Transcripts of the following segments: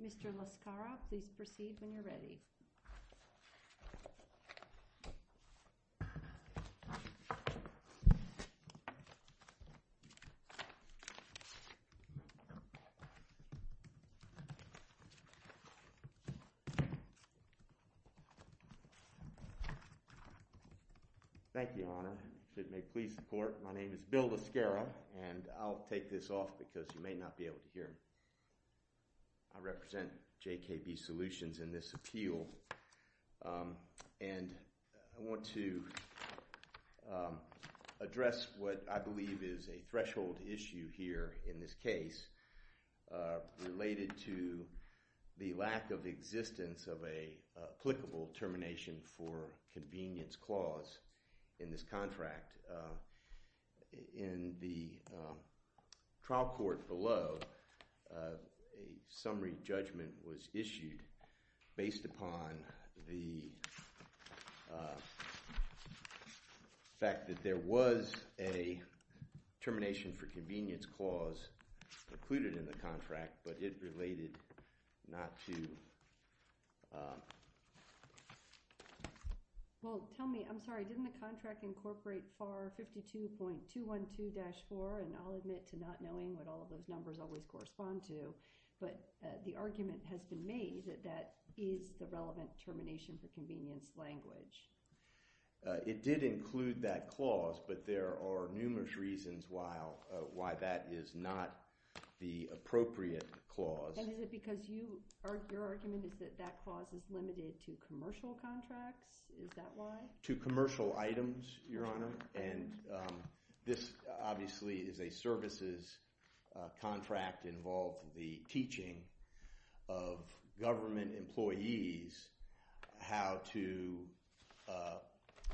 Mr. LaScarra, please proceed when you're ready. Thank you, Your Honor, if it may please the court, my name is Bill LaScarra, and I'll take this off because you may not be able to hear me. I represent JKB Solutions in this appeal, and I want to address what I believe is a applicable termination for convenience clause in this contract. In the trial court below, a summary judgment was issued based upon the fact that there was a termination for convenience clause included in the contract, but it related not to... Well, tell me, I'm sorry, didn't the contract incorporate FAR 52.212-4, and I'll admit to not knowing what all of those numbers always correspond to, but the argument has been made that that is the relevant termination for convenience language. It did include that clause, but there are numerous reasons why that is not the appropriate clause. And is it because your argument is that that clause is limited to commercial contracts? Is that why? To commercial items, Your Honor, and this obviously is a services contract involved the teaching of government employees how to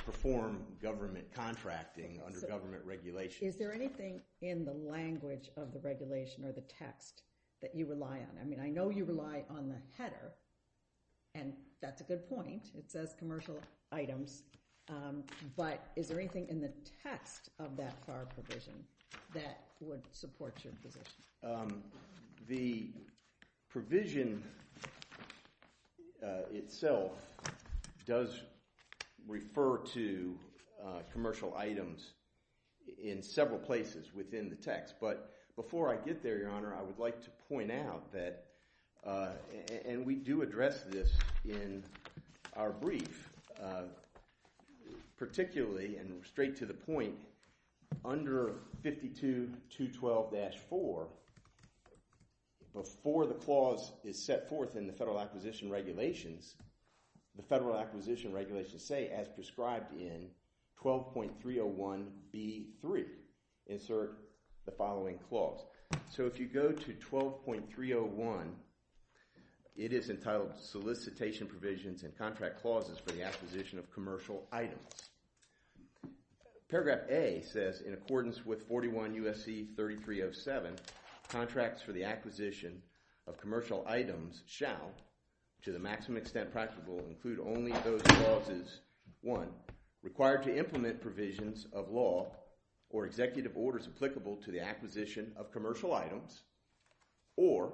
perform government contracting under government regulations. Is there anything in the language of the regulation or the text that you rely on? I mean, I know you rely on the header, and that's a good point. It says commercial items, but is there anything in the text of that FAR provision that would support your position? The provision itself does refer to commercial items in several places within the text, but before I get there, Your Honor, I would like to point out that, and we do address this in our brief, particularly and straight to the point, under 52.212-4, before the clause is set forth in the Federal Acquisition Regulations, the Federal Acquisition Regulations say, as prescribed in 12.301b.3, insert the following clause. So if you go to 12.301, it is entitled Solicitation Provisions and Contract Clauses for the Acquisition of Commercial Items. Paragraph A says, in accordance with 41 U.S.C. 3307, contracts for the acquisition of commercial items shall, to the maximum extent practical, include only those clauses, one, required to implement provisions of law or executive orders applicable to the acquisition of commercial items, or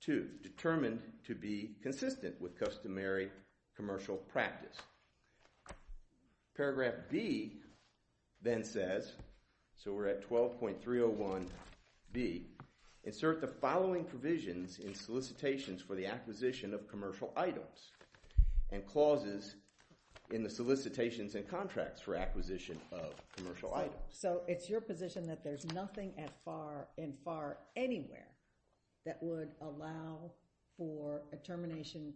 two, determined to be consistent with customary commercial practice. Paragraph B then says, so we're at 12.301b, insert the following provisions in solicitations for the acquisition of commercial items and clauses in the solicitations and contracts for acquisition of commercial items. So it's your position that there's nothing in FAR anywhere that would allow for a termination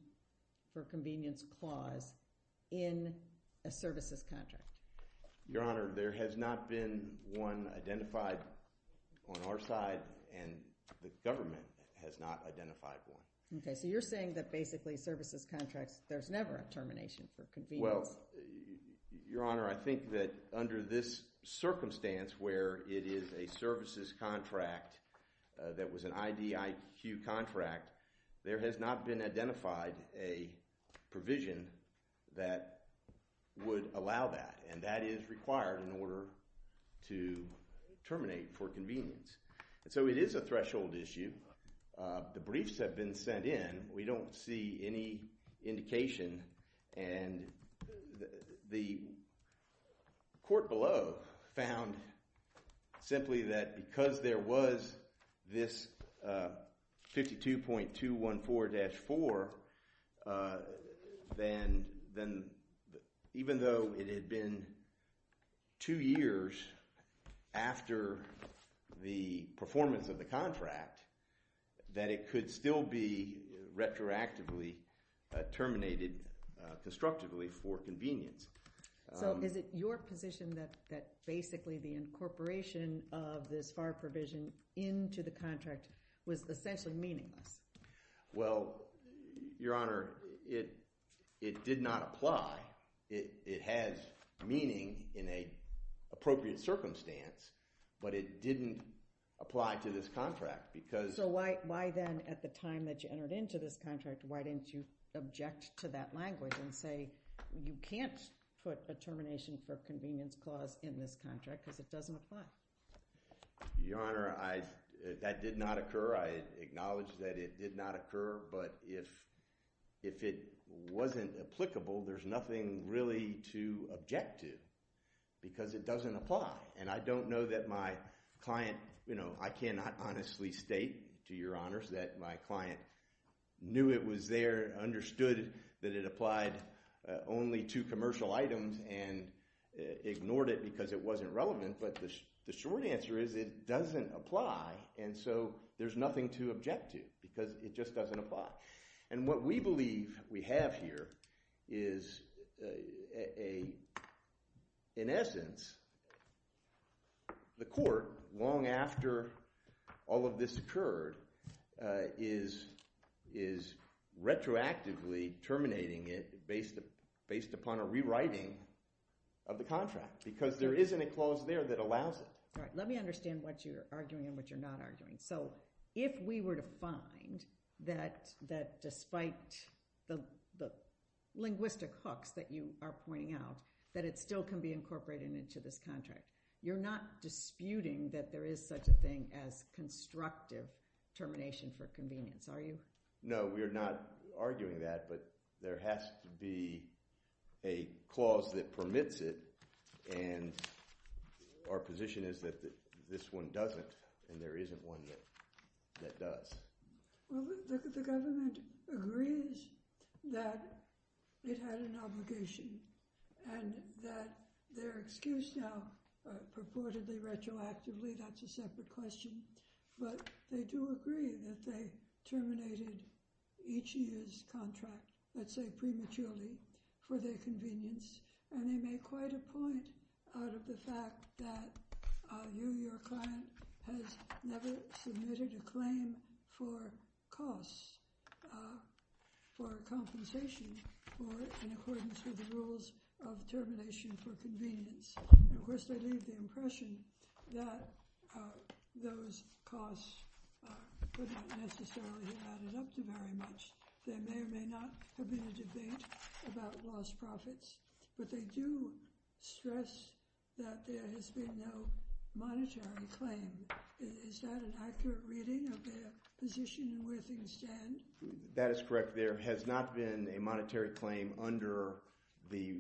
for convenience clause in a services contract? Your Honor, there has not been one identified on our side, and the government has not identified one. Okay, so you're saying that basically services contracts, there's never a termination for convenience? Well, Your Honor, I think that under this circumstance where it is a services contract that was an IDIQ contract, there has not been identified a provision that would allow that, and that is required in order to terminate for convenience. So it is a threshold issue. The briefs have been sent in, we don't see any indication, and the court below found simply that because there was this 52.214-4, then even though it had been two years after the performance of the contract, that it could still be retroactively terminated constructively for convenience. So is it your position that basically the incorporation of this FAR provision into the contract was essentially meaningless? Well, Your Honor, it did not apply. It has meaning in an appropriate circumstance, but it didn't apply to this contract because So why then at the time that you entered into this contract, why didn't you object to that language and say you can't put a termination for convenience clause in this contract because it doesn't apply? Your Honor, that did not occur. I acknowledge that it did not occur, but if it wasn't applicable, there's nothing really to object to because it doesn't apply, and I don't know that my client, you know, I cannot honestly state to Your Honors that my client knew it was there, understood that it applied only to commercial items and ignored it because it wasn't relevant, but the short answer is it doesn't apply, and so there's nothing to object to because it just doesn't apply. And what we believe we have here is in essence the court, long after all of this occurred, is retroactively terminating it based upon a rewriting of the contract because there isn't a clause there that allows it. All right, let me understand what you're arguing and what you're not arguing. So if we were to find that despite the linguistic hooks that you are pointing out, that it still can be incorporated into this contract, you're not disputing that there is such a thing as a constructive termination for convenience, are you? No, we are not arguing that, but there has to be a clause that permits it, and our position is that this one doesn't, and there isn't one that does. Well, the government agrees that it had an obligation and that their excuse now purportedly retroactively, that's a separate question, but they do agree that they terminated each year's contract, let's say prematurely, for their convenience, and they make quite a point out of the fact that you, your client, has never submitted a claim for costs, for compensation in accordance with the rules of termination for convenience. Of course, they leave the impression that those costs were not necessarily added up to very much. There may or may not have been a debate about lost profits, but they do stress that there has been no monetary claim. Is that an accurate reading of their position and where things stand? That is correct. There has not been a monetary claim under the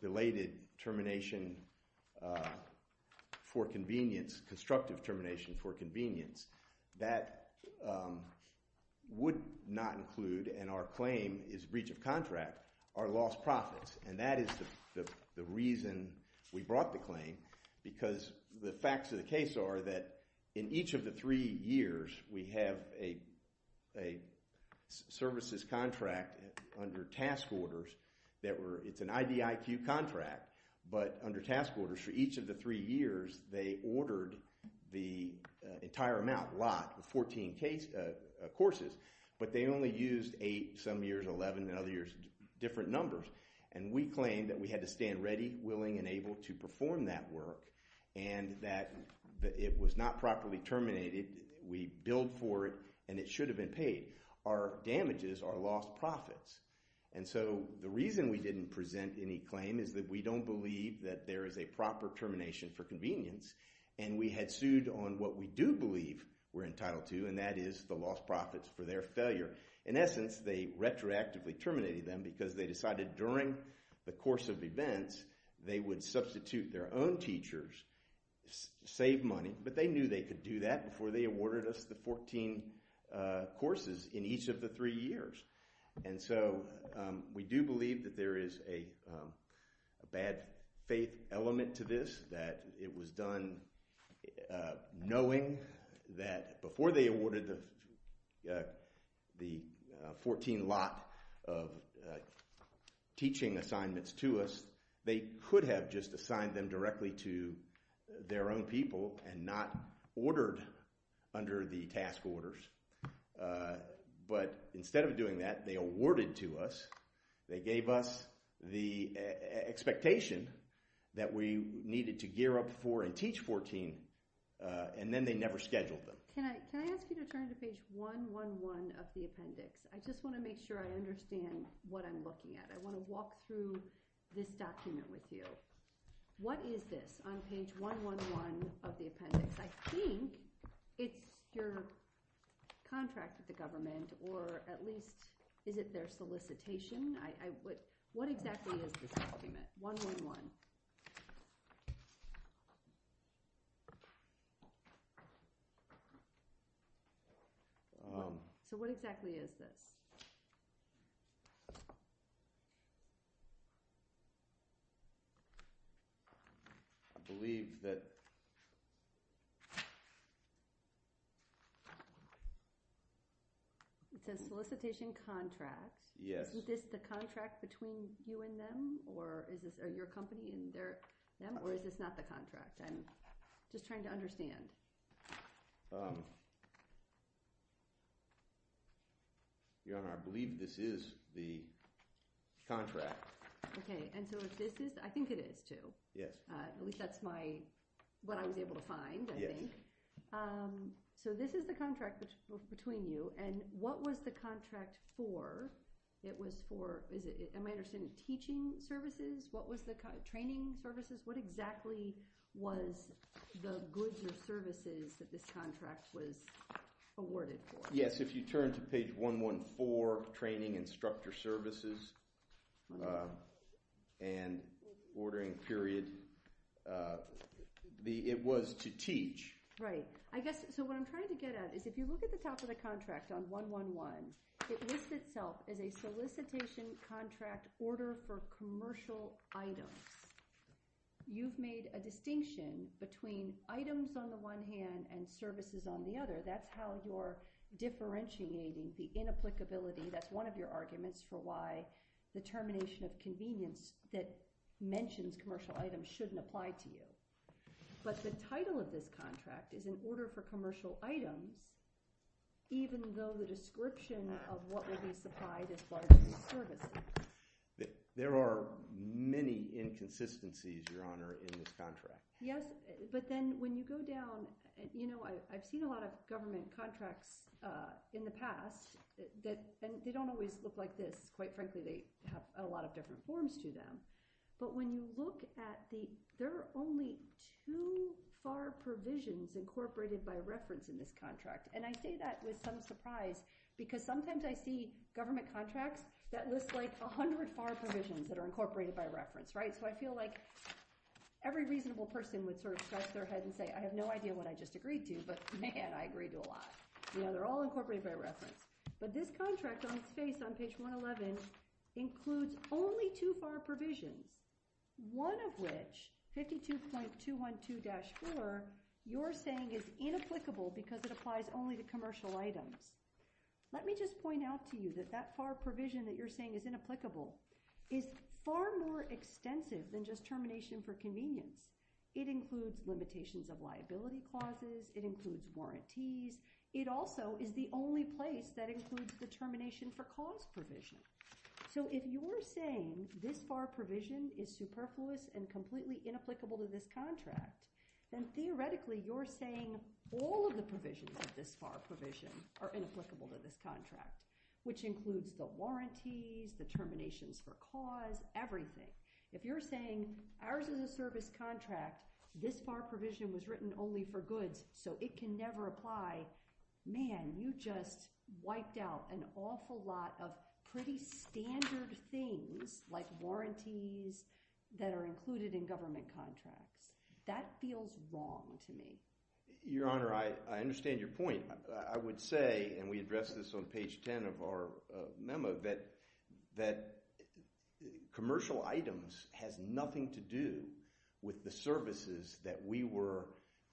belated termination for convenience, constructive termination for convenience. That would not include, and our claim is breach of contract, our lost profits, and that is the reason we brought the claim, because the facts of the case are that in each of the services contract under task orders that were, it's an IDIQ contract, but under task orders for each of the three years, they ordered the entire amount, lot, the 14 courses, but they only used eight, some years 11, and other years different numbers, and we claim that we had to stand ready, willing, and able to perform that work, and that it was not properly terminated. We billed for it, and it should have been paid. Our damages are lost profits, and so the reason we didn't present any claim is that we don't believe that there is a proper termination for convenience, and we had sued on what we do believe we're entitled to, and that is the lost profits for their failure. In essence, they retroactively terminated them because they decided during the course of events, they would substitute their own teachers, save money, but they knew they could do that before they awarded us the 14 courses in each of the three years, and so we do believe that there is a bad faith element to this, that it was done knowing that before they awarded the 14 lot of teaching assignments to us, they could have just assigned them directly to their own people and not ordered under the task orders, but instead of doing that, they awarded to us, they gave us the expectation that we needed to gear up for and teach 14, and then they never scheduled them. Can I ask you to turn to page 111 of the appendix? I just want to make sure I understand what I'm looking at. I want to walk through this document with you. What is this on page 111 of the appendix? I think it's your contract with the government, or at least is it their solicitation? What exactly is this document, 111? So what exactly is this? I believe that... It's a solicitation contract. Yes. Is this the contract between you and them, or is this your company and them, or is this not the contract? I'm just trying to understand. Your Honor, I believe this is the contract. I think it is, too. At least that's what I was able to find, I think. So this is the contract between you, and what was the contract for? It was for, am I understanding, teaching services? Training services? What exactly was the goods or services that this contract was awarded for? Yes, if you turn to page 114 of training instructor services and ordering period, it was to teach. Right. So what I'm trying to get at is if you look at the top of the contract on 111, it lists itself as a solicitation contract order for commercial items. You've made a distinction between items on the one hand and services on the other. That's how you're differentiating the inapplicability. That's one of your arguments for why the termination of convenience that mentions commercial items shouldn't apply to you. But the title of this contract is in order for commercial items, even though the description of what will be supplied as part of the services. There are many inconsistencies, Your Honor, in this contract. Yes, but then when you go down, you know, I've seen a lot of government contracts in the past, and they don't always look like this. Quite frankly, they have a lot of different forms to them. But when you look at the, there are only two FAR provisions incorporated by reference in this contract. And I say that with some surprise, because sometimes I see government contracts that list like 100 FAR provisions that are incorporated by reference, right? So I feel like every reasonable person would sort of scratch their head and say, I have no idea what I just agreed to, but man, I agree to a lot. You know, they're all incorporated by reference. But this contract on its face on page 111 includes only two FAR provisions, one of which, 52.212-4, you're saying is inapplicable because it applies only to commercial items. Let me just point out to you that that FAR provision that you're saying is inapplicable is far more extensive than just termination for convenience. It includes limitations of liability clauses. It includes warranties. It also is the only place that includes the termination for cost provision. So if you're saying this FAR provision is superfluous and completely inapplicable to this contract, then theoretically you're saying all of the provisions of this FAR provision are inapplicable to this contract, which includes the warranties, the terminations for cause, everything. If you're saying ours is a service contract, this FAR provision was written only for goods, so it can never apply, man, you just wiped out an awful lot of pretty standard things like warranties that are included in government contracts. That feels wrong to me. Your Honor, I understand your point. I would say, and we addressed this on page 10 of our memo, that commercial items has nothing to do with the services that we were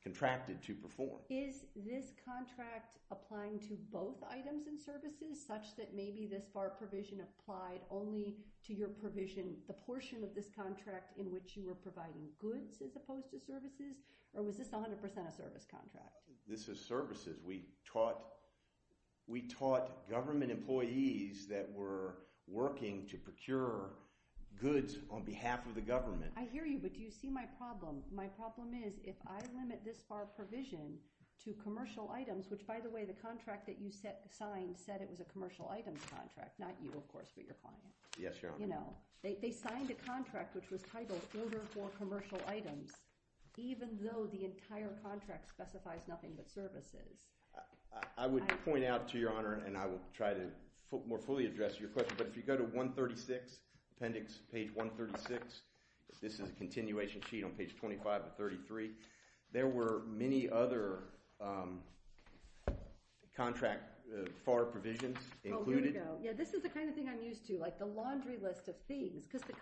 contracted to perform. Is this contract applying to both items and services, such that maybe this FAR provision applied only to your provision, the portion of this contract in which you were providing goods as opposed to services, or was this 100% a service contract? This is services. We taught government employees that were working to procure goods on behalf of the government. I hear you, but do you see my problem? My problem is, if I limit this FAR provision to commercial items, which, by the way, the contract that you signed said it was a commercial items contract, not you, of course, but your client. Yes, Your Honor. They signed a contract which was titled Order for Commercial Items, even though the entire contract specifies nothing but services. I would point out to Your Honor, and I will try to more fully address your question, but if you go to 136, appendix, page 136, this is a continuation sheet on page 25 of 33, there were many other contract FAR provisions included. Oh, here we go. Yeah, this is the kind of thing I'm used to, like the laundry list of things, because the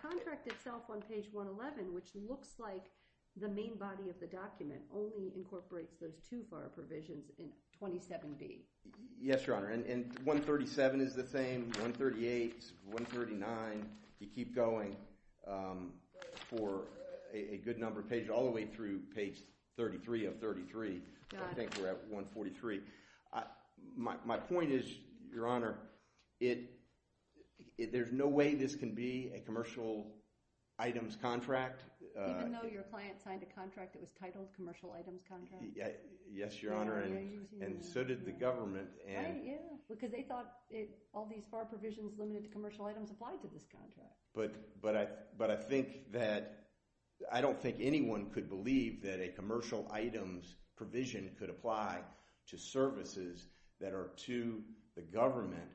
incorporates those two FAR provisions in 27D. Yes, Your Honor, and 137 is the same, 138, 139. You keep going for a good number of pages, all the way through page 33 of 33. I think we're at 143. My point is, Your Honor, there's no way this can be a commercial items contract. Even though your client signed a contract that was titled commercial items contract? Yes, Your Honor, and so did the government. Right, yeah, because they thought all these FAR provisions limited to commercial items applied to this contract. But I think that, I don't think anyone could believe that a commercial items provision could apply to services that are to the government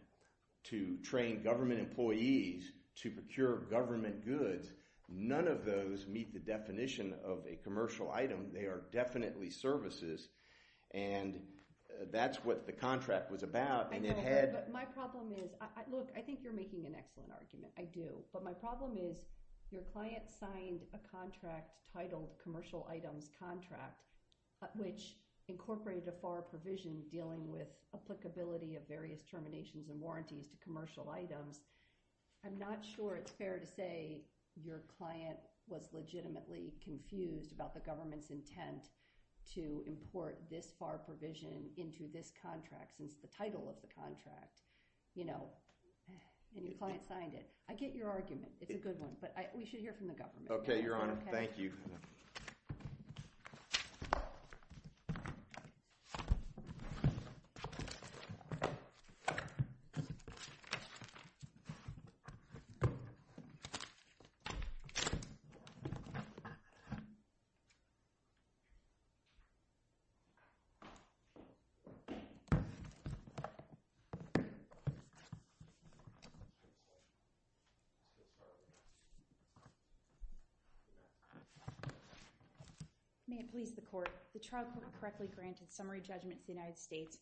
to train government employees to procure government goods. Because none of those meet the definition of a commercial item. They are definitely services, and that's what the contract was about. I know, but my problem is, look, I think you're making an excellent argument. I do. But my problem is, your client signed a contract titled commercial items contract, which incorporated a FAR provision dealing with applicability of various terminations and warranties to commercial items. I'm not sure it's fair to say your client was legitimately confused about the government's intent to import this FAR provision into this contract since the title of the contract, you know, and your client signed it. I get your argument. It's a good one. But we should hear from the government. Okay, Your Honor. Thank you. Thank you. May it please the Court. The trial court correctly granted summary judgment to the United States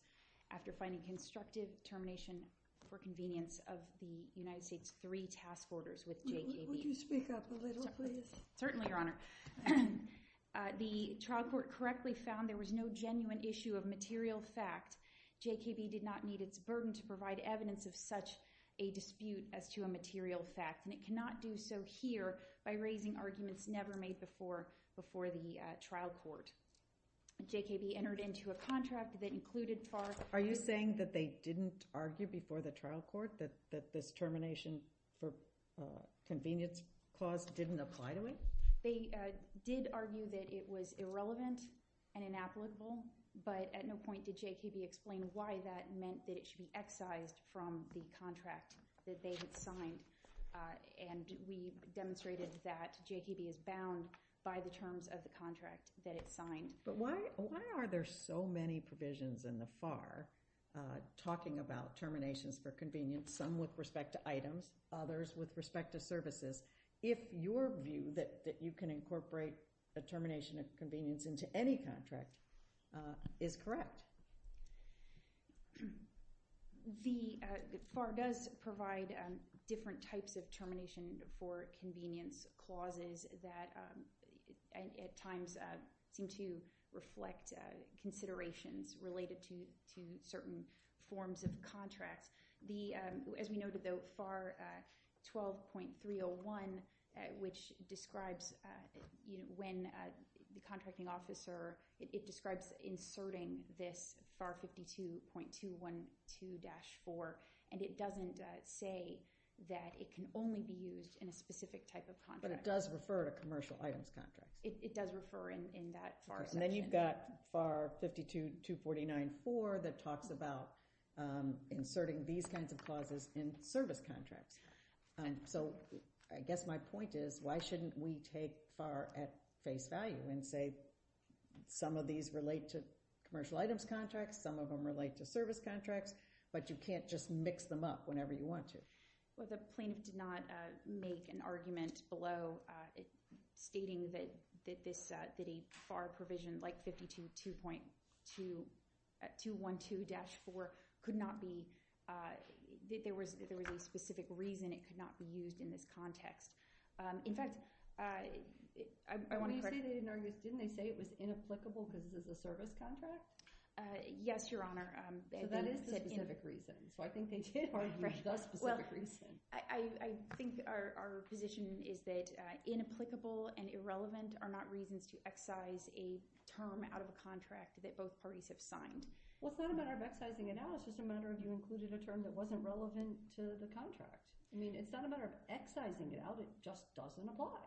after finding constructive termination for convenience of the United States' three task orders with JKB. Will you speak up a little, please? Certainly, Your Honor. The trial court correctly found there was no genuine issue of material fact. JKB did not need its burden to provide evidence of such a dispute as to a material fact, and cannot do so here by raising arguments never made before the trial court. JKB entered into a contract that included FAR... Are you saying that they didn't argue before the trial court that this termination for convenience clause didn't apply to it? They did argue that it was irrelevant and inapplicable, but at no point did JKB explain why that meant that it should be excised from the contract that they had signed. And we demonstrated that JKB is bound by the terms of the contract that it signed. But why are there so many provisions in the FAR talking about terminations for convenience, some with respect to items, others with respect to services, if your view that you can incorporate a termination of convenience into any contract is correct? The FAR does provide different types of termination for convenience clauses that at times seem to reflect considerations related to certain forms of contracts. As we noted, though, FAR 12.301, which describes when the contracting officer... This FAR 52.212-4, and it doesn't say that it can only be used in a specific type of contract. But it does refer to commercial items contracts. It does refer in that FAR section. And then you've got FAR 52.249-4 that talks about inserting these kinds of clauses in service contracts. So I guess my point is, why shouldn't we take FAR at face value and say some of these relate to commercial items contracts, some of them relate to service contracts, but you can't just mix them up whenever you want to? Well, the plaintiff did not make an argument below stating that a FAR provision like 52.212-4 could not be... that there was a specific reason it could not be used in this context. In fact, I want to correct... Yes, Your Honor. So that is the specific reason. So I think they did argue the specific reason. Well, I think our position is that inapplicable and irrelevant are not reasons to excise a term out of a contract that both parties have signed. Well, it's not a matter of excising it out. It's just a matter of you included a term that wasn't relevant to the contract. I mean, it's not a matter of excising it out. It just doesn't apply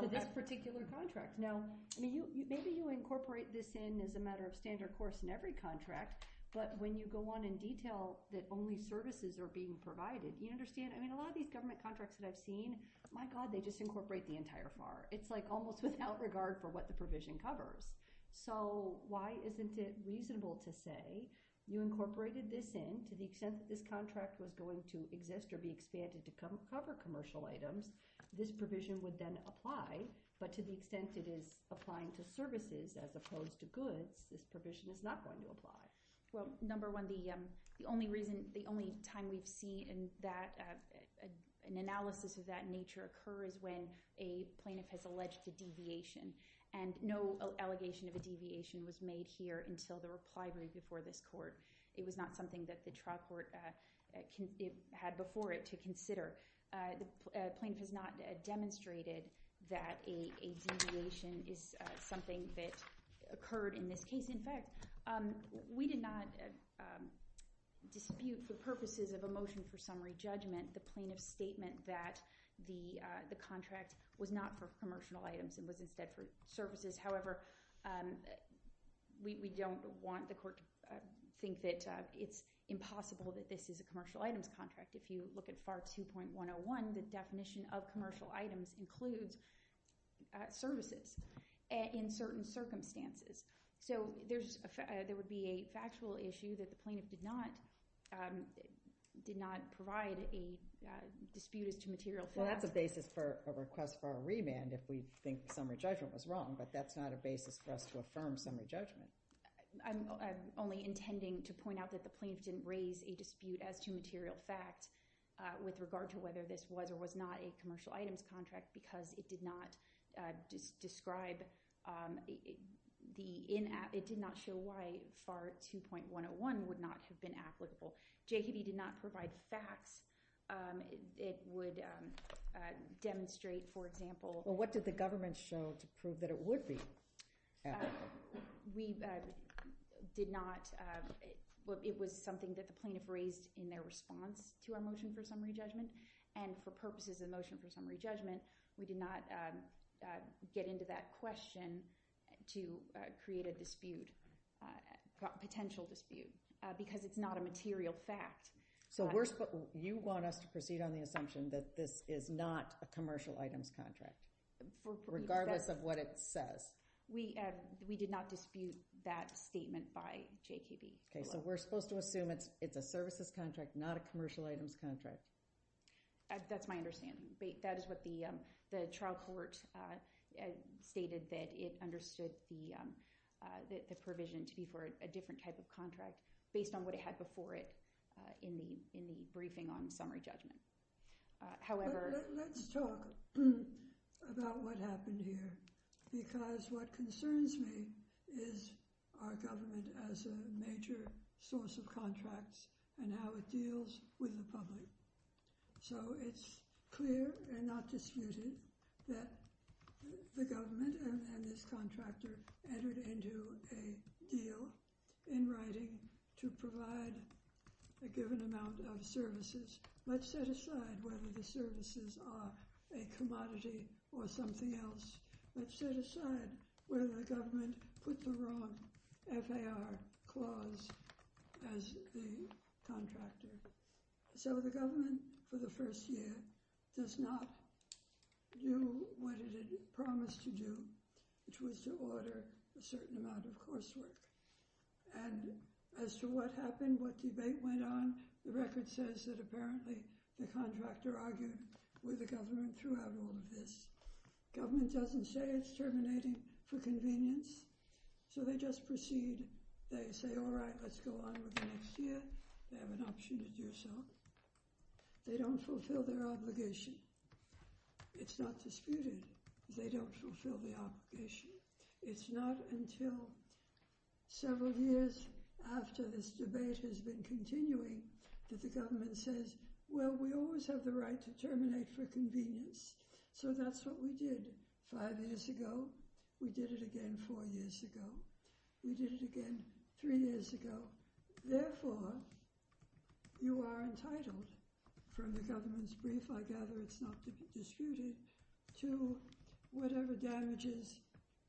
to this particular contract. Now, maybe you incorporate this in as a matter of standard course in every contract, but when you go on and detail that only services are being provided, you understand? I mean, a lot of these government contracts that I've seen, my God, they just incorporate the entire FAR. It's like almost without regard for what the provision covers. So why isn't it reasonable to say you incorporated this in to the extent that this contract was going to exist or be expanded to cover commercial items, this provision would then apply, but to the extent it is applying to services as opposed to goods, this provision is not going to apply. Well, number one, the only time we've seen an analysis of that nature occur is when a plaintiff has alleged a deviation. And no allegation of a deviation was made here until the reply read before this court. It was not something that the trial court had before it to consider. The plaintiff has not demonstrated that a deviation is something that occurred in this case. In fact, we did not dispute for purposes of a motion for summary judgment the plaintiff's statement that the contract was not for commercial items and was instead for services. However, we don't want the court to think that it's impossible that this is a commercial items contract. If you look at FAR 2.101, the definition of commercial items includes services in certain circumstances. So there would be a factual issue that the plaintiff did not provide a dispute as to material facts. Well, that's a basis for a request for a remand if we think summary judgment was wrong, but that's not a basis for us to affirm summary judgment. I'm only intending to point out that the plaintiff didn't raise a dispute as to material facts with regard to whether this was or was not a commercial items contract because it did not describe, it did not show why FAR 2.101 would not have been applicable. JKD did not provide facts. It would demonstrate, for example... Well, what did the government show to prove that it would be applicable? We did not... Well, it was something that the plaintiff raised in their response to our motion for summary judgment, and for purposes of the motion for summary judgment, we did not get into that question to create a dispute, a potential dispute, because it's not a material fact. So you want us to proceed on the assumption that this is not a commercial items contract regardless of what it says? We did not dispute that statement by JKD. Okay, so we're supposed to assume it's a services contract, not a commercial items contract. That's my understanding. That is what the trial court stated, that it understood the provision to be for a different type of contract based on what it had before it in the briefing on summary judgment. However... Let's talk about what happened here, because what concerns me is our government as a major source of contracts and how it deals with the public. So it's clear and not disputed that the government and this contractor entered into a deal in writing to provide a given amount of services. Let's set aside whether the services are a commodity or something else. Let's set aside whether the government put the wrong FAR clause as the contractor. So the government, for the first year, does not do what it had promised to do, which was to order a certain amount of coursework. And as to what happened, what debate went on, the record says that apparently the contractor argued with the government throughout all of this. Government doesn't say it's terminating for convenience, so they just proceed. They say, all right, let's go on with the next year. They have an option to do so. They don't fulfill their obligation. It's not disputed. They don't fulfill the obligation. It's not until several years after this debate has been continuing that the government says, well, we always have the right to terminate for convenience. So that's what we did five years ago. We did it again four years ago. We did it again three years ago. Therefore, you are entitled, from the government's brief, I gather it's not disputed, to whatever damages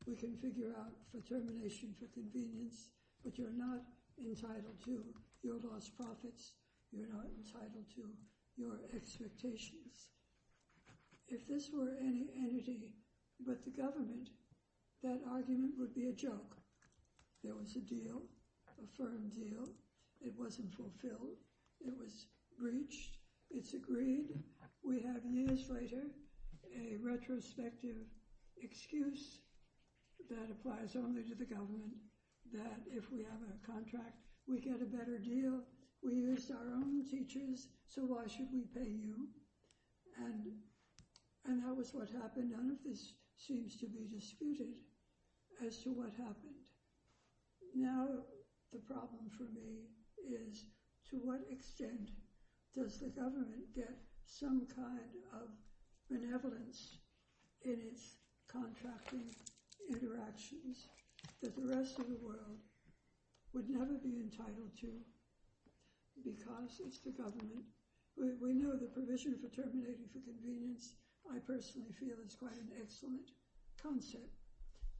we can figure out for termination for convenience. But you're not entitled to your lost profits. You're not entitled to your expectations. If this were any entity but the government, that argument would be a joke. There was a deal, a firm deal. It wasn't fulfilled. It was breached. It's agreed. We have, years later, a retrospective excuse that applies only to the government, that if we have a contract, we get a better deal. We use our own teachers, so why should we pay you? And that was what happened. None of this seems to be disputed as to what happened. Now the problem for me is to what extent does the government get some kind of benevolence in its contracting interactions that the rest of the world would never be entitled to because it's the government. We know the provision for terminating for convenience, I personally feel, is quite an excellent concept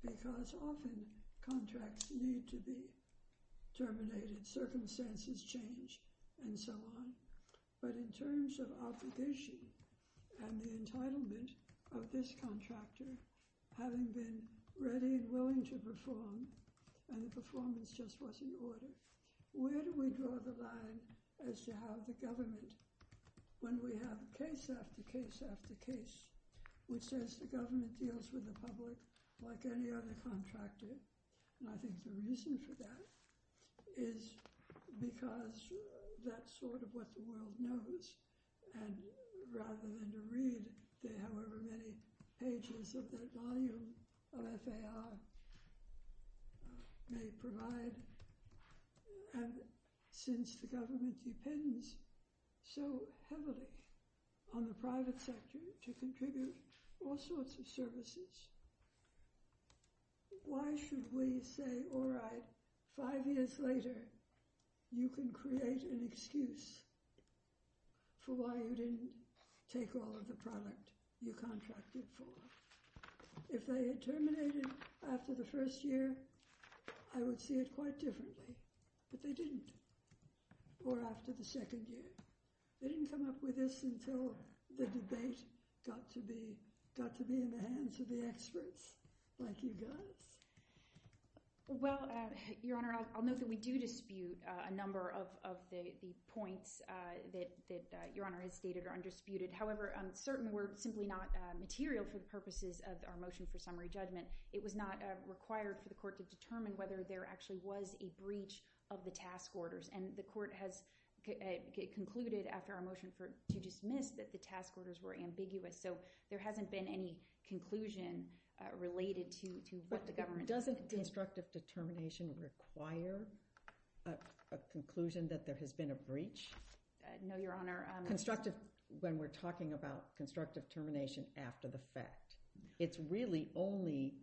because often contracts need to be terminated, circumstances change, and so on. But in terms of obligation and the entitlement of this contractor having been ready and willing to perform, and the performance just wasn't order, where do we draw the line as to how the government, when we have case after case after case, which says the government deals with the public like any other contractor, and I think the reason for that is because that's sort of what the world knows. And rather than to read the however many pages of the volume that they are, they provide, and since the government depends so heavily on the private sector to contribute all sorts of services, why should we say, all right, five years later you can create an excuse for why you didn't take all of the product you contracted for. If they had terminated after the first year, I would see it quite differently, but they didn't, or after the second year. They didn't come up with this until the debate got to be in the hands of the experts like you guys. Well, Your Honor, I'll note that we do dispute a number of the points that Your Honor has raised, and I think that the court has not required the court to determine whether there actually was a breach of the task orders, and the court has concluded after our motion to dismiss that the task orders were ambiguous, so there hasn't been any conclusion related to what the government did. But doesn't constructive determination require a conclusion that there has been a breach? No, Your Honor. Constructive, when we're talking about constructive determination after the fact, it's really only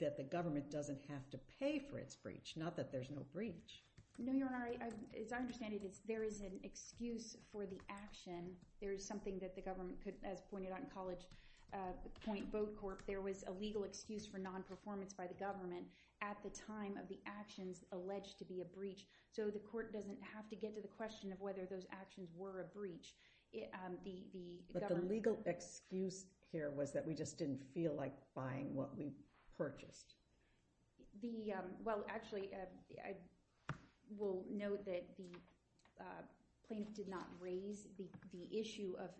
that the government doesn't have to pay for its breach, not that there's no breach. No, Your Honor, as I understand it, there is an excuse for the action. There is something that the government could, as pointed out in College Point Boat Corp, there was a legal excuse for non-performance by the government at the time of the actions alleged to be a breach, so the court doesn't have to get to the question of whether those actions were a breach. But the legal excuse here was that we just didn't feel like buying what we purchased. Well, actually, I will note that the plaintiff did not raise the issue of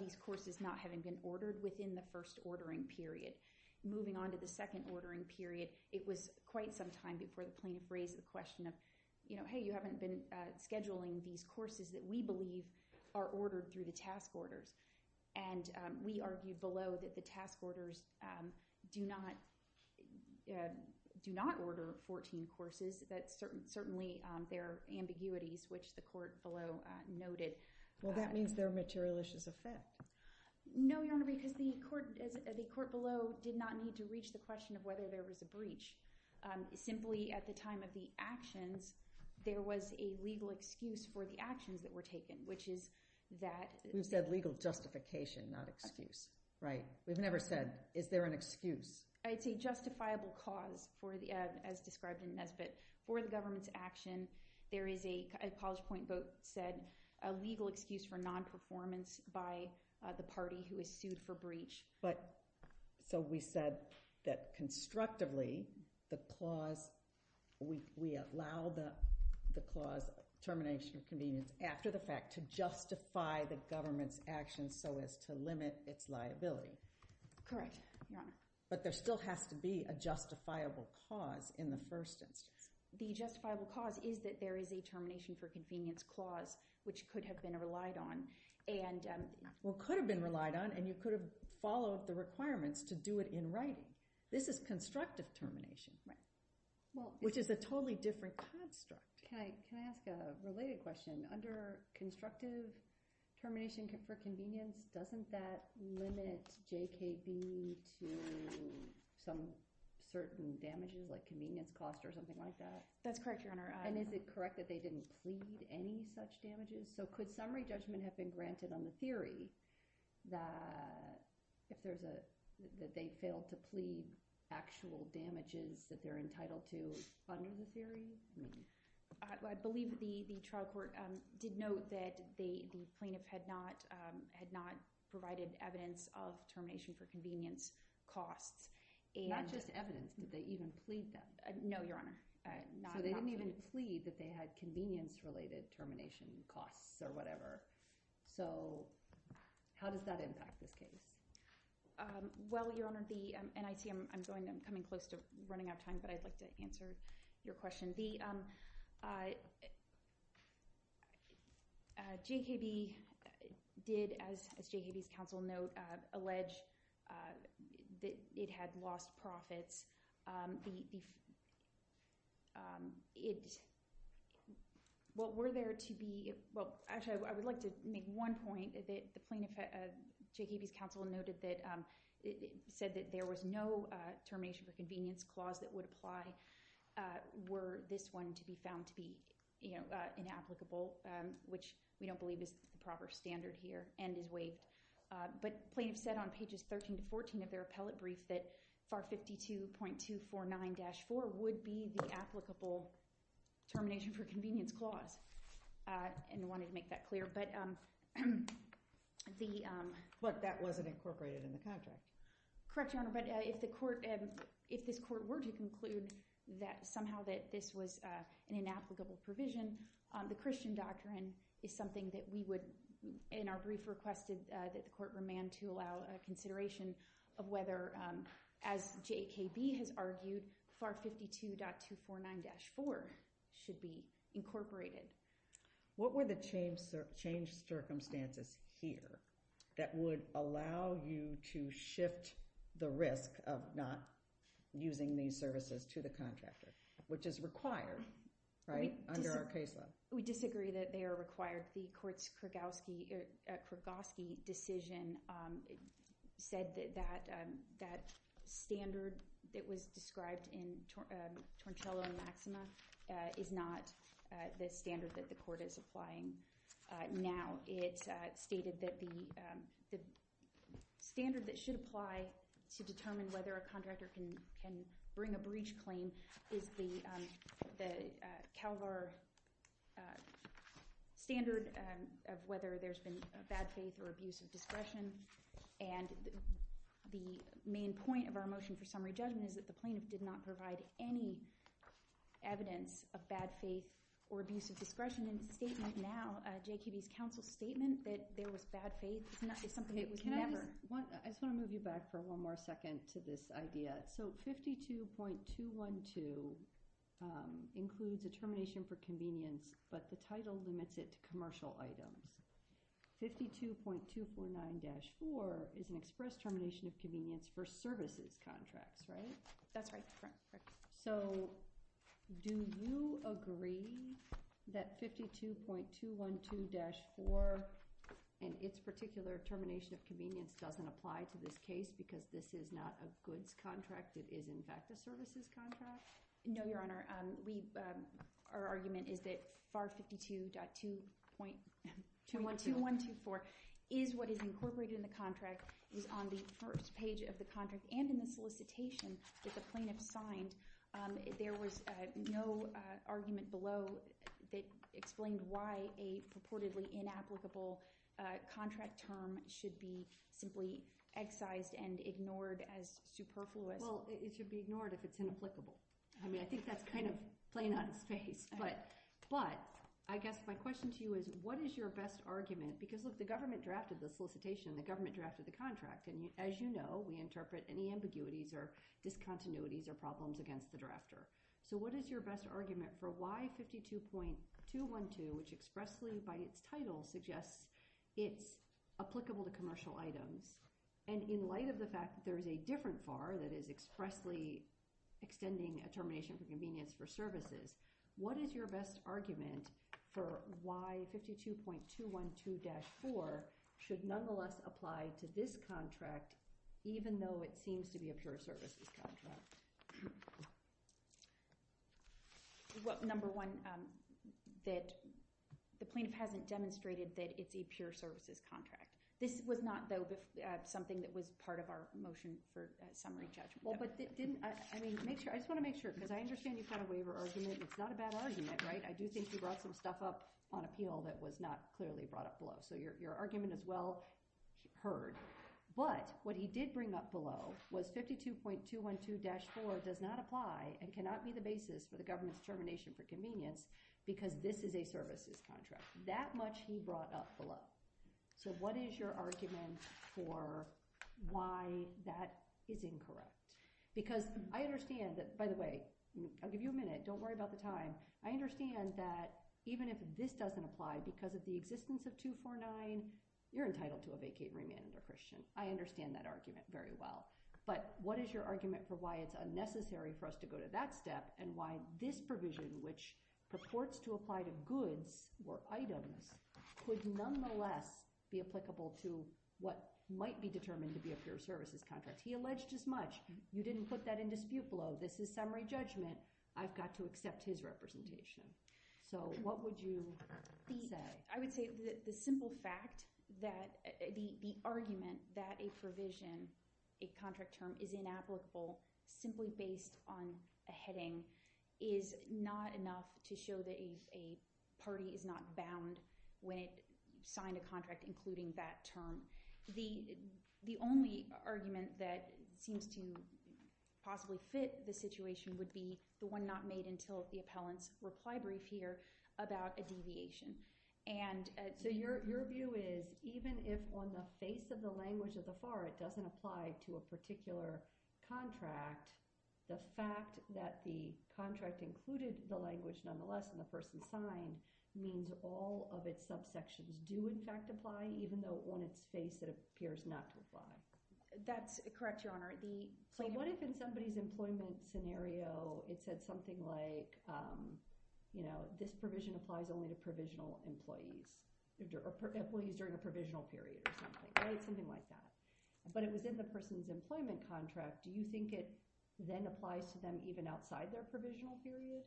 these courses not having been ordered within the first ordering period. Moving on to the second ordering period, it was quite some time before the plaintiff raised the question of, you know, hey, you haven't been scheduling these courses that we believe are ordered through the task orders. And we argued below that the task orders do not order 14 courses, that certainly there are ambiguities, which the court below noted. Well, that means they're material issues of theft. No, Your Honor, because the court below did not need to reach the question of whether there was a breach. Simply, at the time of the actions, there was a legal excuse for the actions that were taken, which is that— We've said legal justification, not excuse. Right. We've never said, is there an excuse? It's a justifiable cause, as described in Nesbitt. For the government's action, there is a—as College Point Boat said, a legal excuse for non-performance by the party who is sued for breach. But—so we said that constructively, the clause—we allow the clause termination of convenience after the fact to justify the government's actions so as to limit its liability. Correct, Your Honor. But there still has to be a justifiable cause in the first instance. The justifiable cause is that there is a termination for convenience clause, which could have been relied on. Well, it could have been relied on, and you could have followed the requirements to do it in writing. This is constructive termination, which is a totally different construct. Can I ask a related question? Under constructive termination for convenience, doesn't that limit JKB to some certain damages like convenience cost or something like that? That's correct, Your Honor. And is it correct that they didn't plead any such damages? So could summary judgment have been granted on the theory that they failed to plead actual damages that they're entitled to under the theory? I believe the trial court did note that the plaintiff had not provided evidence of termination for convenience costs. Not just evidence. Did they even plead them? No, Your Honor. So they didn't even plead that they had convenience-related termination costs or whatever. So how does that impact this case? Well, Your Honor, the NIC, I'm coming close to running out of time, but I'd like to answer your question. JKB did, as JKB's counsel noted, allege that it had lost profits. Well, were there to be, well, actually, I would like to make one point that the plaintiff, JKB's counsel noted that, said that there was no termination for convenience clause that would apply, were this one to be found to be inapplicable, which we don't believe is the proper standard here, and is waived. But plaintiff said on pages 13 to 14 of their appellate brief that FAR 52.249-4 would be the applicable termination for convenience clause, and wanted to make that clear. But that wasn't incorporated in the contract. Correct, Your Honor, but if this court were to conclude that somehow that this was an inapplicable provision, the Christian doctrine is something that we would, in our brief requested that the court remand to allow a consideration of whether, as JKB has argued, FAR 52.249-4 should be incorporated. What were the changed circumstances here that would allow you to shift the risk of not using these services to the contractor, which is required, right, under our case law? We disagree that they are required. The court's Krogowski decision said that that standard that was described in the standard that the court is applying now. It stated that the standard that should apply to determine whether a contractor can bring a breach claim is the CalVar standard of whether there's been bad faith or abusive discretion. And the main point of our motion for summary judgment is that the plaintiff did not provide any evidence of bad faith or abusive discretion in the statement now. JKB's counsel's statement that there was bad faith is something that was never. I just want to move you back for one more second to this idea. So 52.212 includes a termination for convenience, but the title limits it to commercial items. 52.249-4 is an express termination of convenience for services contracts, right? That's right. So do you agree that 52.212-4 and its particular termination of convenience doesn't apply to this case because this is not a goods contract? It is, in fact, a services contract? No, Your Honor. Our argument is that FAR 52.2124 is what is incorporated in the contract, is on the first draft of the solicitation that the plaintiff signed. There was no argument below that explained why a purportedly inapplicable contract term should be simply excised and ignored as superfluous. Well, it should be ignored if it's inapplicable. I mean, I think that's kind of plain on its face. But I guess my question to you is, what is your best argument? Because, look, the government drafted the solicitation and the government drafted the discontinuities or problems against the drafter. So what is your best argument for why 52.212, which expressly by its title suggests it's applicable to commercial items, and in light of the fact that there is a different FAR that is expressly extending a termination of convenience for services, what is your best argument for why 52.212-4 should nonetheless apply to this contract even though it seems to be a pure services contract? Well, number one, that the plaintiff hasn't demonstrated that it's a pure services contract. This was not, though, something that was part of our motion for summary judgment. I just want to make sure, because I understand you've got a waiver argument. It's not a bad argument, right? I do think you brought some stuff up on appeal that was not clearly brought up below. So your argument is well heard. But what he did bring up below was 52.212-4 does not apply and cannot be the basis for the government's termination for convenience because this is a services contract. That much he brought up below. So what is your argument for why that is incorrect? Because I understand that, by the way, I'll give you a minute. Don't worry about the time. I understand that even if this doesn't apply because of the existence of 249, you're entitled to a vacate remand if you're a Christian. I understand that argument very well. But what is your argument for why it's unnecessary for us to go to that step and why this provision, which purports to apply to goods or items, could nonetheless be applicable to what might be determined to be a pure services contract? He alleged as much. You didn't put that in dispute below. This is summary judgment. I've got to accept his representation. So what would you say? I would say the simple fact that the argument that a provision, a contract term, is inapplicable simply based on a heading is not enough to show that a party is not bound when it signed a contract including that term. The only argument that seems to possibly fit the situation would be the one not made until the appellant's reply brief here about a deviation. So your view is even if on the face of the language of the FAR it doesn't apply to a particular contract, the fact that the contract included the language nonetheless and the person signed means all of its subsections do in fact apply even though on its face it appears not to apply? That's correct, Your Honor. So what if in somebody's employment scenario it said something like, you know, this provision applies only to provisional employees or employees during a provisional period or something, right? Something like that. But it was in the person's employment contract. Do you think it then applies to them even outside their provisional period?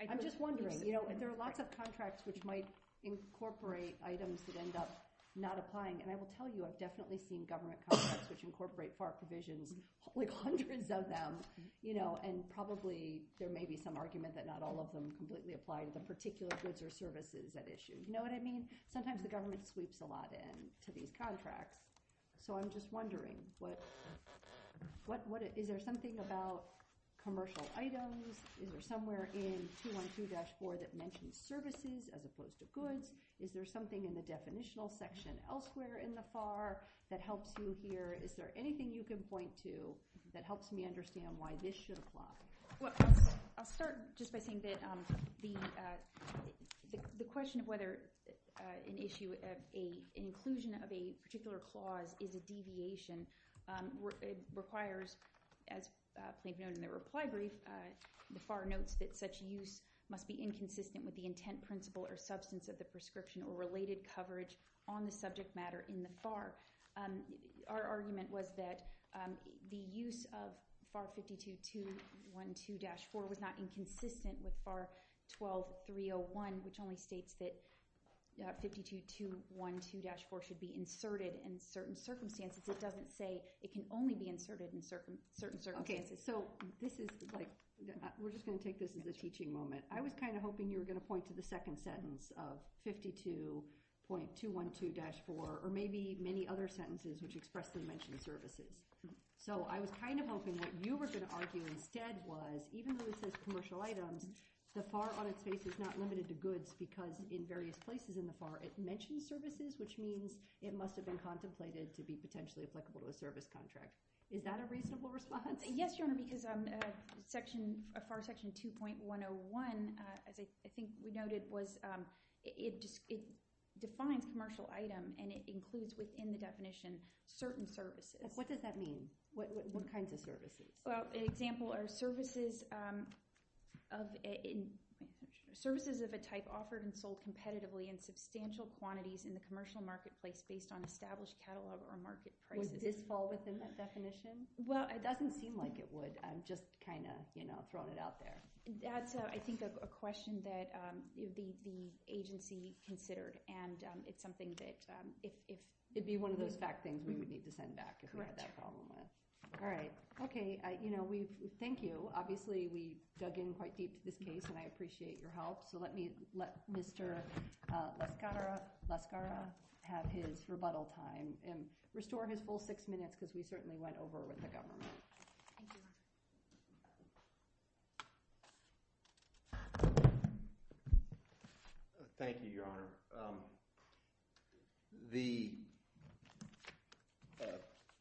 I'm just wondering. You know, there are lots of contracts which might incorporate items that end up not applying and I will tell you I've definitely seen government contracts which incorporate FAR provisions, like hundreds of them, you know, and probably there may be some argument that not all of them completely apply to the particular goods or services at issue. You know what I mean? Sometimes the government sweeps a lot into these contracts. So I'm just wondering, is there something about commercial items? Is there somewhere in 212-4 that mentions services as opposed to goods? Is there something in the definitional section elsewhere in the FAR that helps you here? Is there anything you can point to that helps me understand why this should apply? Well, I'll start just by saying that the question of whether an issue of an inclusion of a particular clause is a deviation requires, as they've known in their reply brief, the FAR notes that such use must be inconsistent with the intent, principle, or substance of the prescription or related coverage on the subject matter in the FAR. Our argument was that the use of FAR 5212-4 was not inconsistent with FAR 12-301, which only states that 5212-4 should be inserted in certain circumstances. It doesn't say it can only be inserted in certain circumstances. We're just going to take this as a teaching moment. I was kind of hoping you were going to point to the second sentence of 52.212-4 or maybe many other sentences which expressly mention services. So I was kind of hoping what you were going to argue instead was, even though it says commercial items, the FAR on its face is not limited to goods because in various places in the FAR it mentions services, which means it must have been contemplated to be potentially applicable to a service contract. Is that a reasonable response? Yes, Your Honor, because FAR Section 2.101, as I think we noted, defines commercial item and it includes within the definition certain services. What does that mean? What kinds of services? An example are services of a type offered and sold competitively in substantial quantities in the commercial marketplace based on established catalog or market prices. Would this fall within that definition? Well, it doesn't seem like it would. I'm just kind of throwing it out there. That's, I think, a question that the agency considered and it's something that if— It would be one of those back things we would need to send back if we had that problem with. Correct. All right. Okay. Thank you. Obviously, we dug in quite deep in this case and I appreciate your help. So let me let Mr. Lascara have his rebuttal time and restore his full six minutes because he certainly went over with the government. Thank you. Thank you, Your Honor. The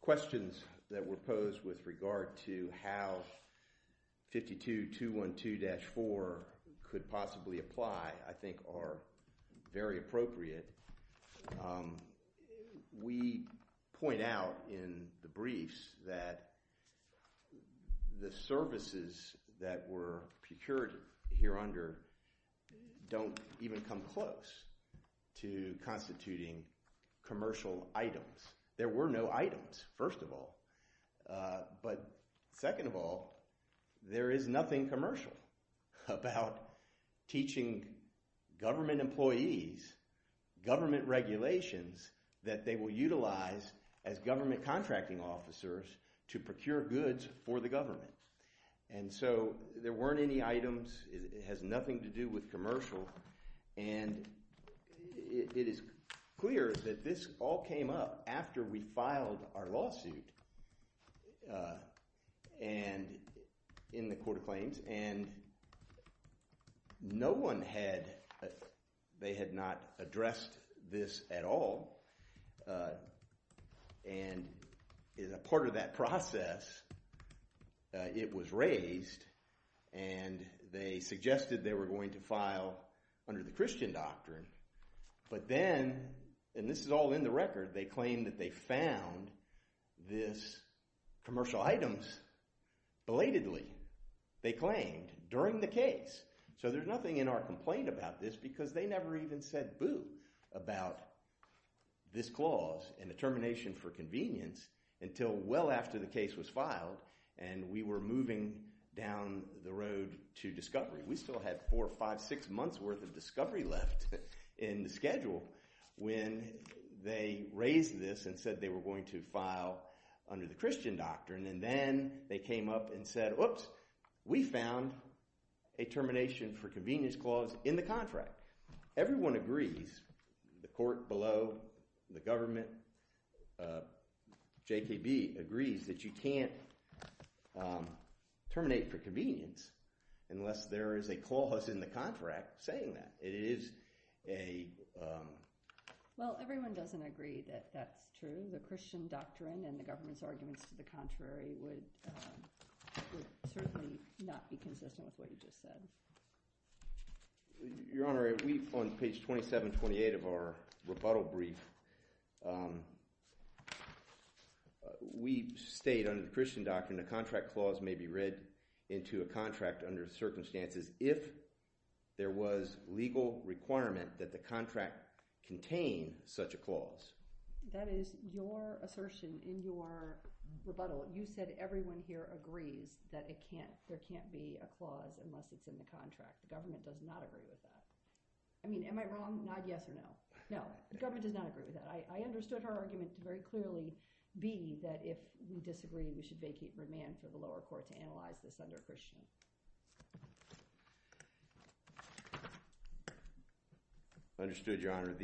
questions that were posed with regard to how 52.212-4 could possibly apply I think are very appropriate. We point out in the briefs that the services that were procured here under don't even come close to constituting commercial items. There were no items, first of all. But second of all, there is nothing commercial about teaching government employees government regulations that they will utilize as government contracting officers to procure goods for the government. And so there weren't any items. It has nothing to do with commercial. And it is clear that this all came up after we filed our lawsuit in the Court of Claims. And no one had, they had not addressed this at all. And as a part of that process, it was raised and they suggested they were going to file under the Christian doctrine. But then, and this is all in the record, they claimed that they found this commercial items belatedly, they claimed, during the case. So there's nothing in our complaint about this because they never even said boo about this clause in the termination for convenience until well after the case was filed and we were moving down the road to discovery. We still had four, five, six months worth of discovery left in the schedule when they raised this and said they were going to file under the Christian doctrine. And then they came up and said, oops, we found a termination for convenience clause in the contract. Everyone agrees, the court below, the government, JKB, agrees that you can't terminate for convenience unless there is a clause in the contract saying that. It is a… Well, everyone doesn't agree that that's true. The Christian doctrine and the government's arguments to the contrary would certainly not be consistent with what you just said. Your Honor, we, on page 27, 28 of our rebuttal brief, we state under the Christian doctrine the contract clause may be read into a contract under circumstances if there was legal requirement that the contract contain such a clause. That is your assertion in your rebuttal. You said everyone here agrees that there can't be a clause unless it's in the contract. The government does not agree with that. I mean, am I wrong? Nod yes or no. No, the government does not agree with that. I understood her argument very clearly being that if we disagree, we should vacate remand for the lower court to analyze this under Christian. Understood, Your Honor.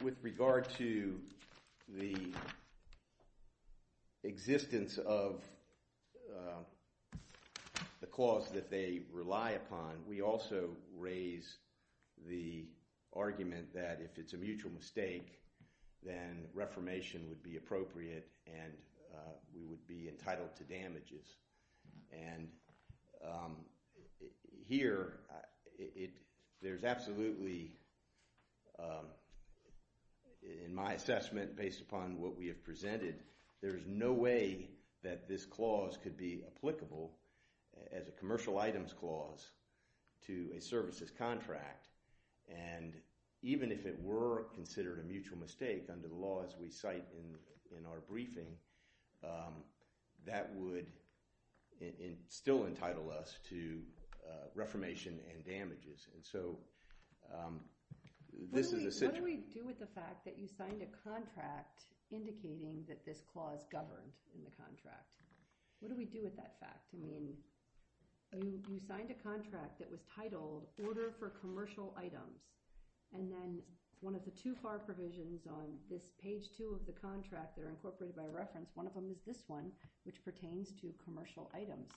With regard to the existence of the clause that they rely upon, we also raise the argument that if it's a mutual mistake, then reformation would be appropriate and we would be entitled to damages. And here, there's absolutely, in my assessment based upon what we have presented, there's no way that this clause could be applicable as a commercial items clause to a services contract. And even if it were considered a mutual mistake under the laws we cite in our briefing, that would still entitle us to reformation and damages. What do we do with the fact that you signed a contract indicating that this clause governs in the contract? What do we do with that fact? I mean, you signed a contract that was titled, Order for Commercial Items, and then one of the two FAR provisions on this page two of the contract that are incorporated by reference, one of them is this one, which pertains to commercial items.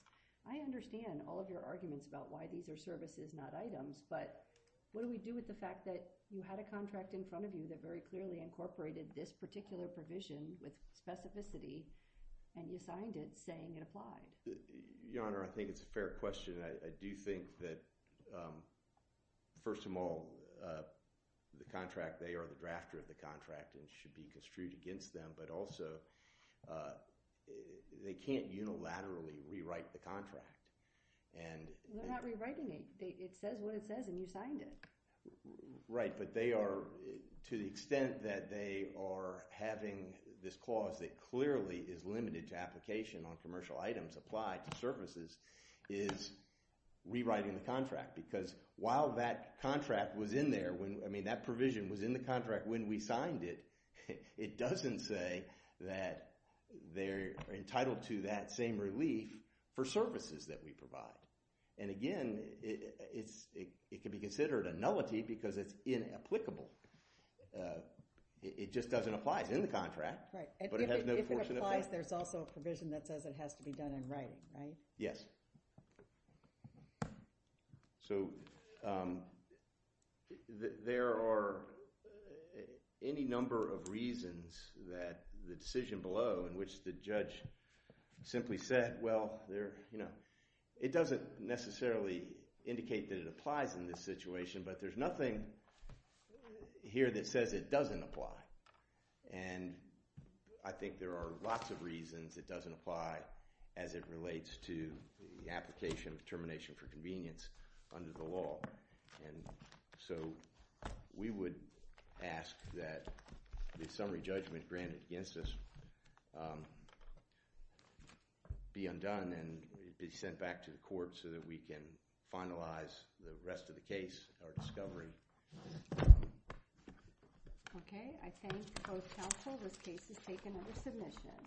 I understand all of your arguments about why these are services, not items, but what do we do with the fact that you had a contract in front of you that very clearly incorporated this particular provision with specificity and you signed it saying it applies? Your Honor, I think it's a fair question. I do think that, first of all, the contract, they are the drafter of the contract and it should be construed against them, but also they can't unilaterally rewrite the contract. We're not rewriting it. It says what it says and you signed it. Right, but they are, to the extent that they are having this clause that clearly is limited to application on commercial items applied to services, is rewriting the contract. Because while that contract was in there, I mean that provision was in the contract when we signed it, it doesn't say that they're entitled to that same relief for services that we provide. And again, it can be considered a nullity because it's inapplicable. It just doesn't apply. It's in the contract, but it has no force in effect. If it applies, there's also a provision that says it has to be done in writing, right? Yes. So, there are any number of reasons that the decision below in which the judge simply said, well, it doesn't necessarily indicate that it applies in this situation, but there's nothing here that says it doesn't apply. And I think there are lots of reasons it doesn't apply as it relates to the application of termination for convenience under the law. And so, we would ask that the summary judgment granted against us be undone and be sent back to the court so that we can finalize the rest of the case or discovery. Okay. I thank both counsel. This case is taken under submission.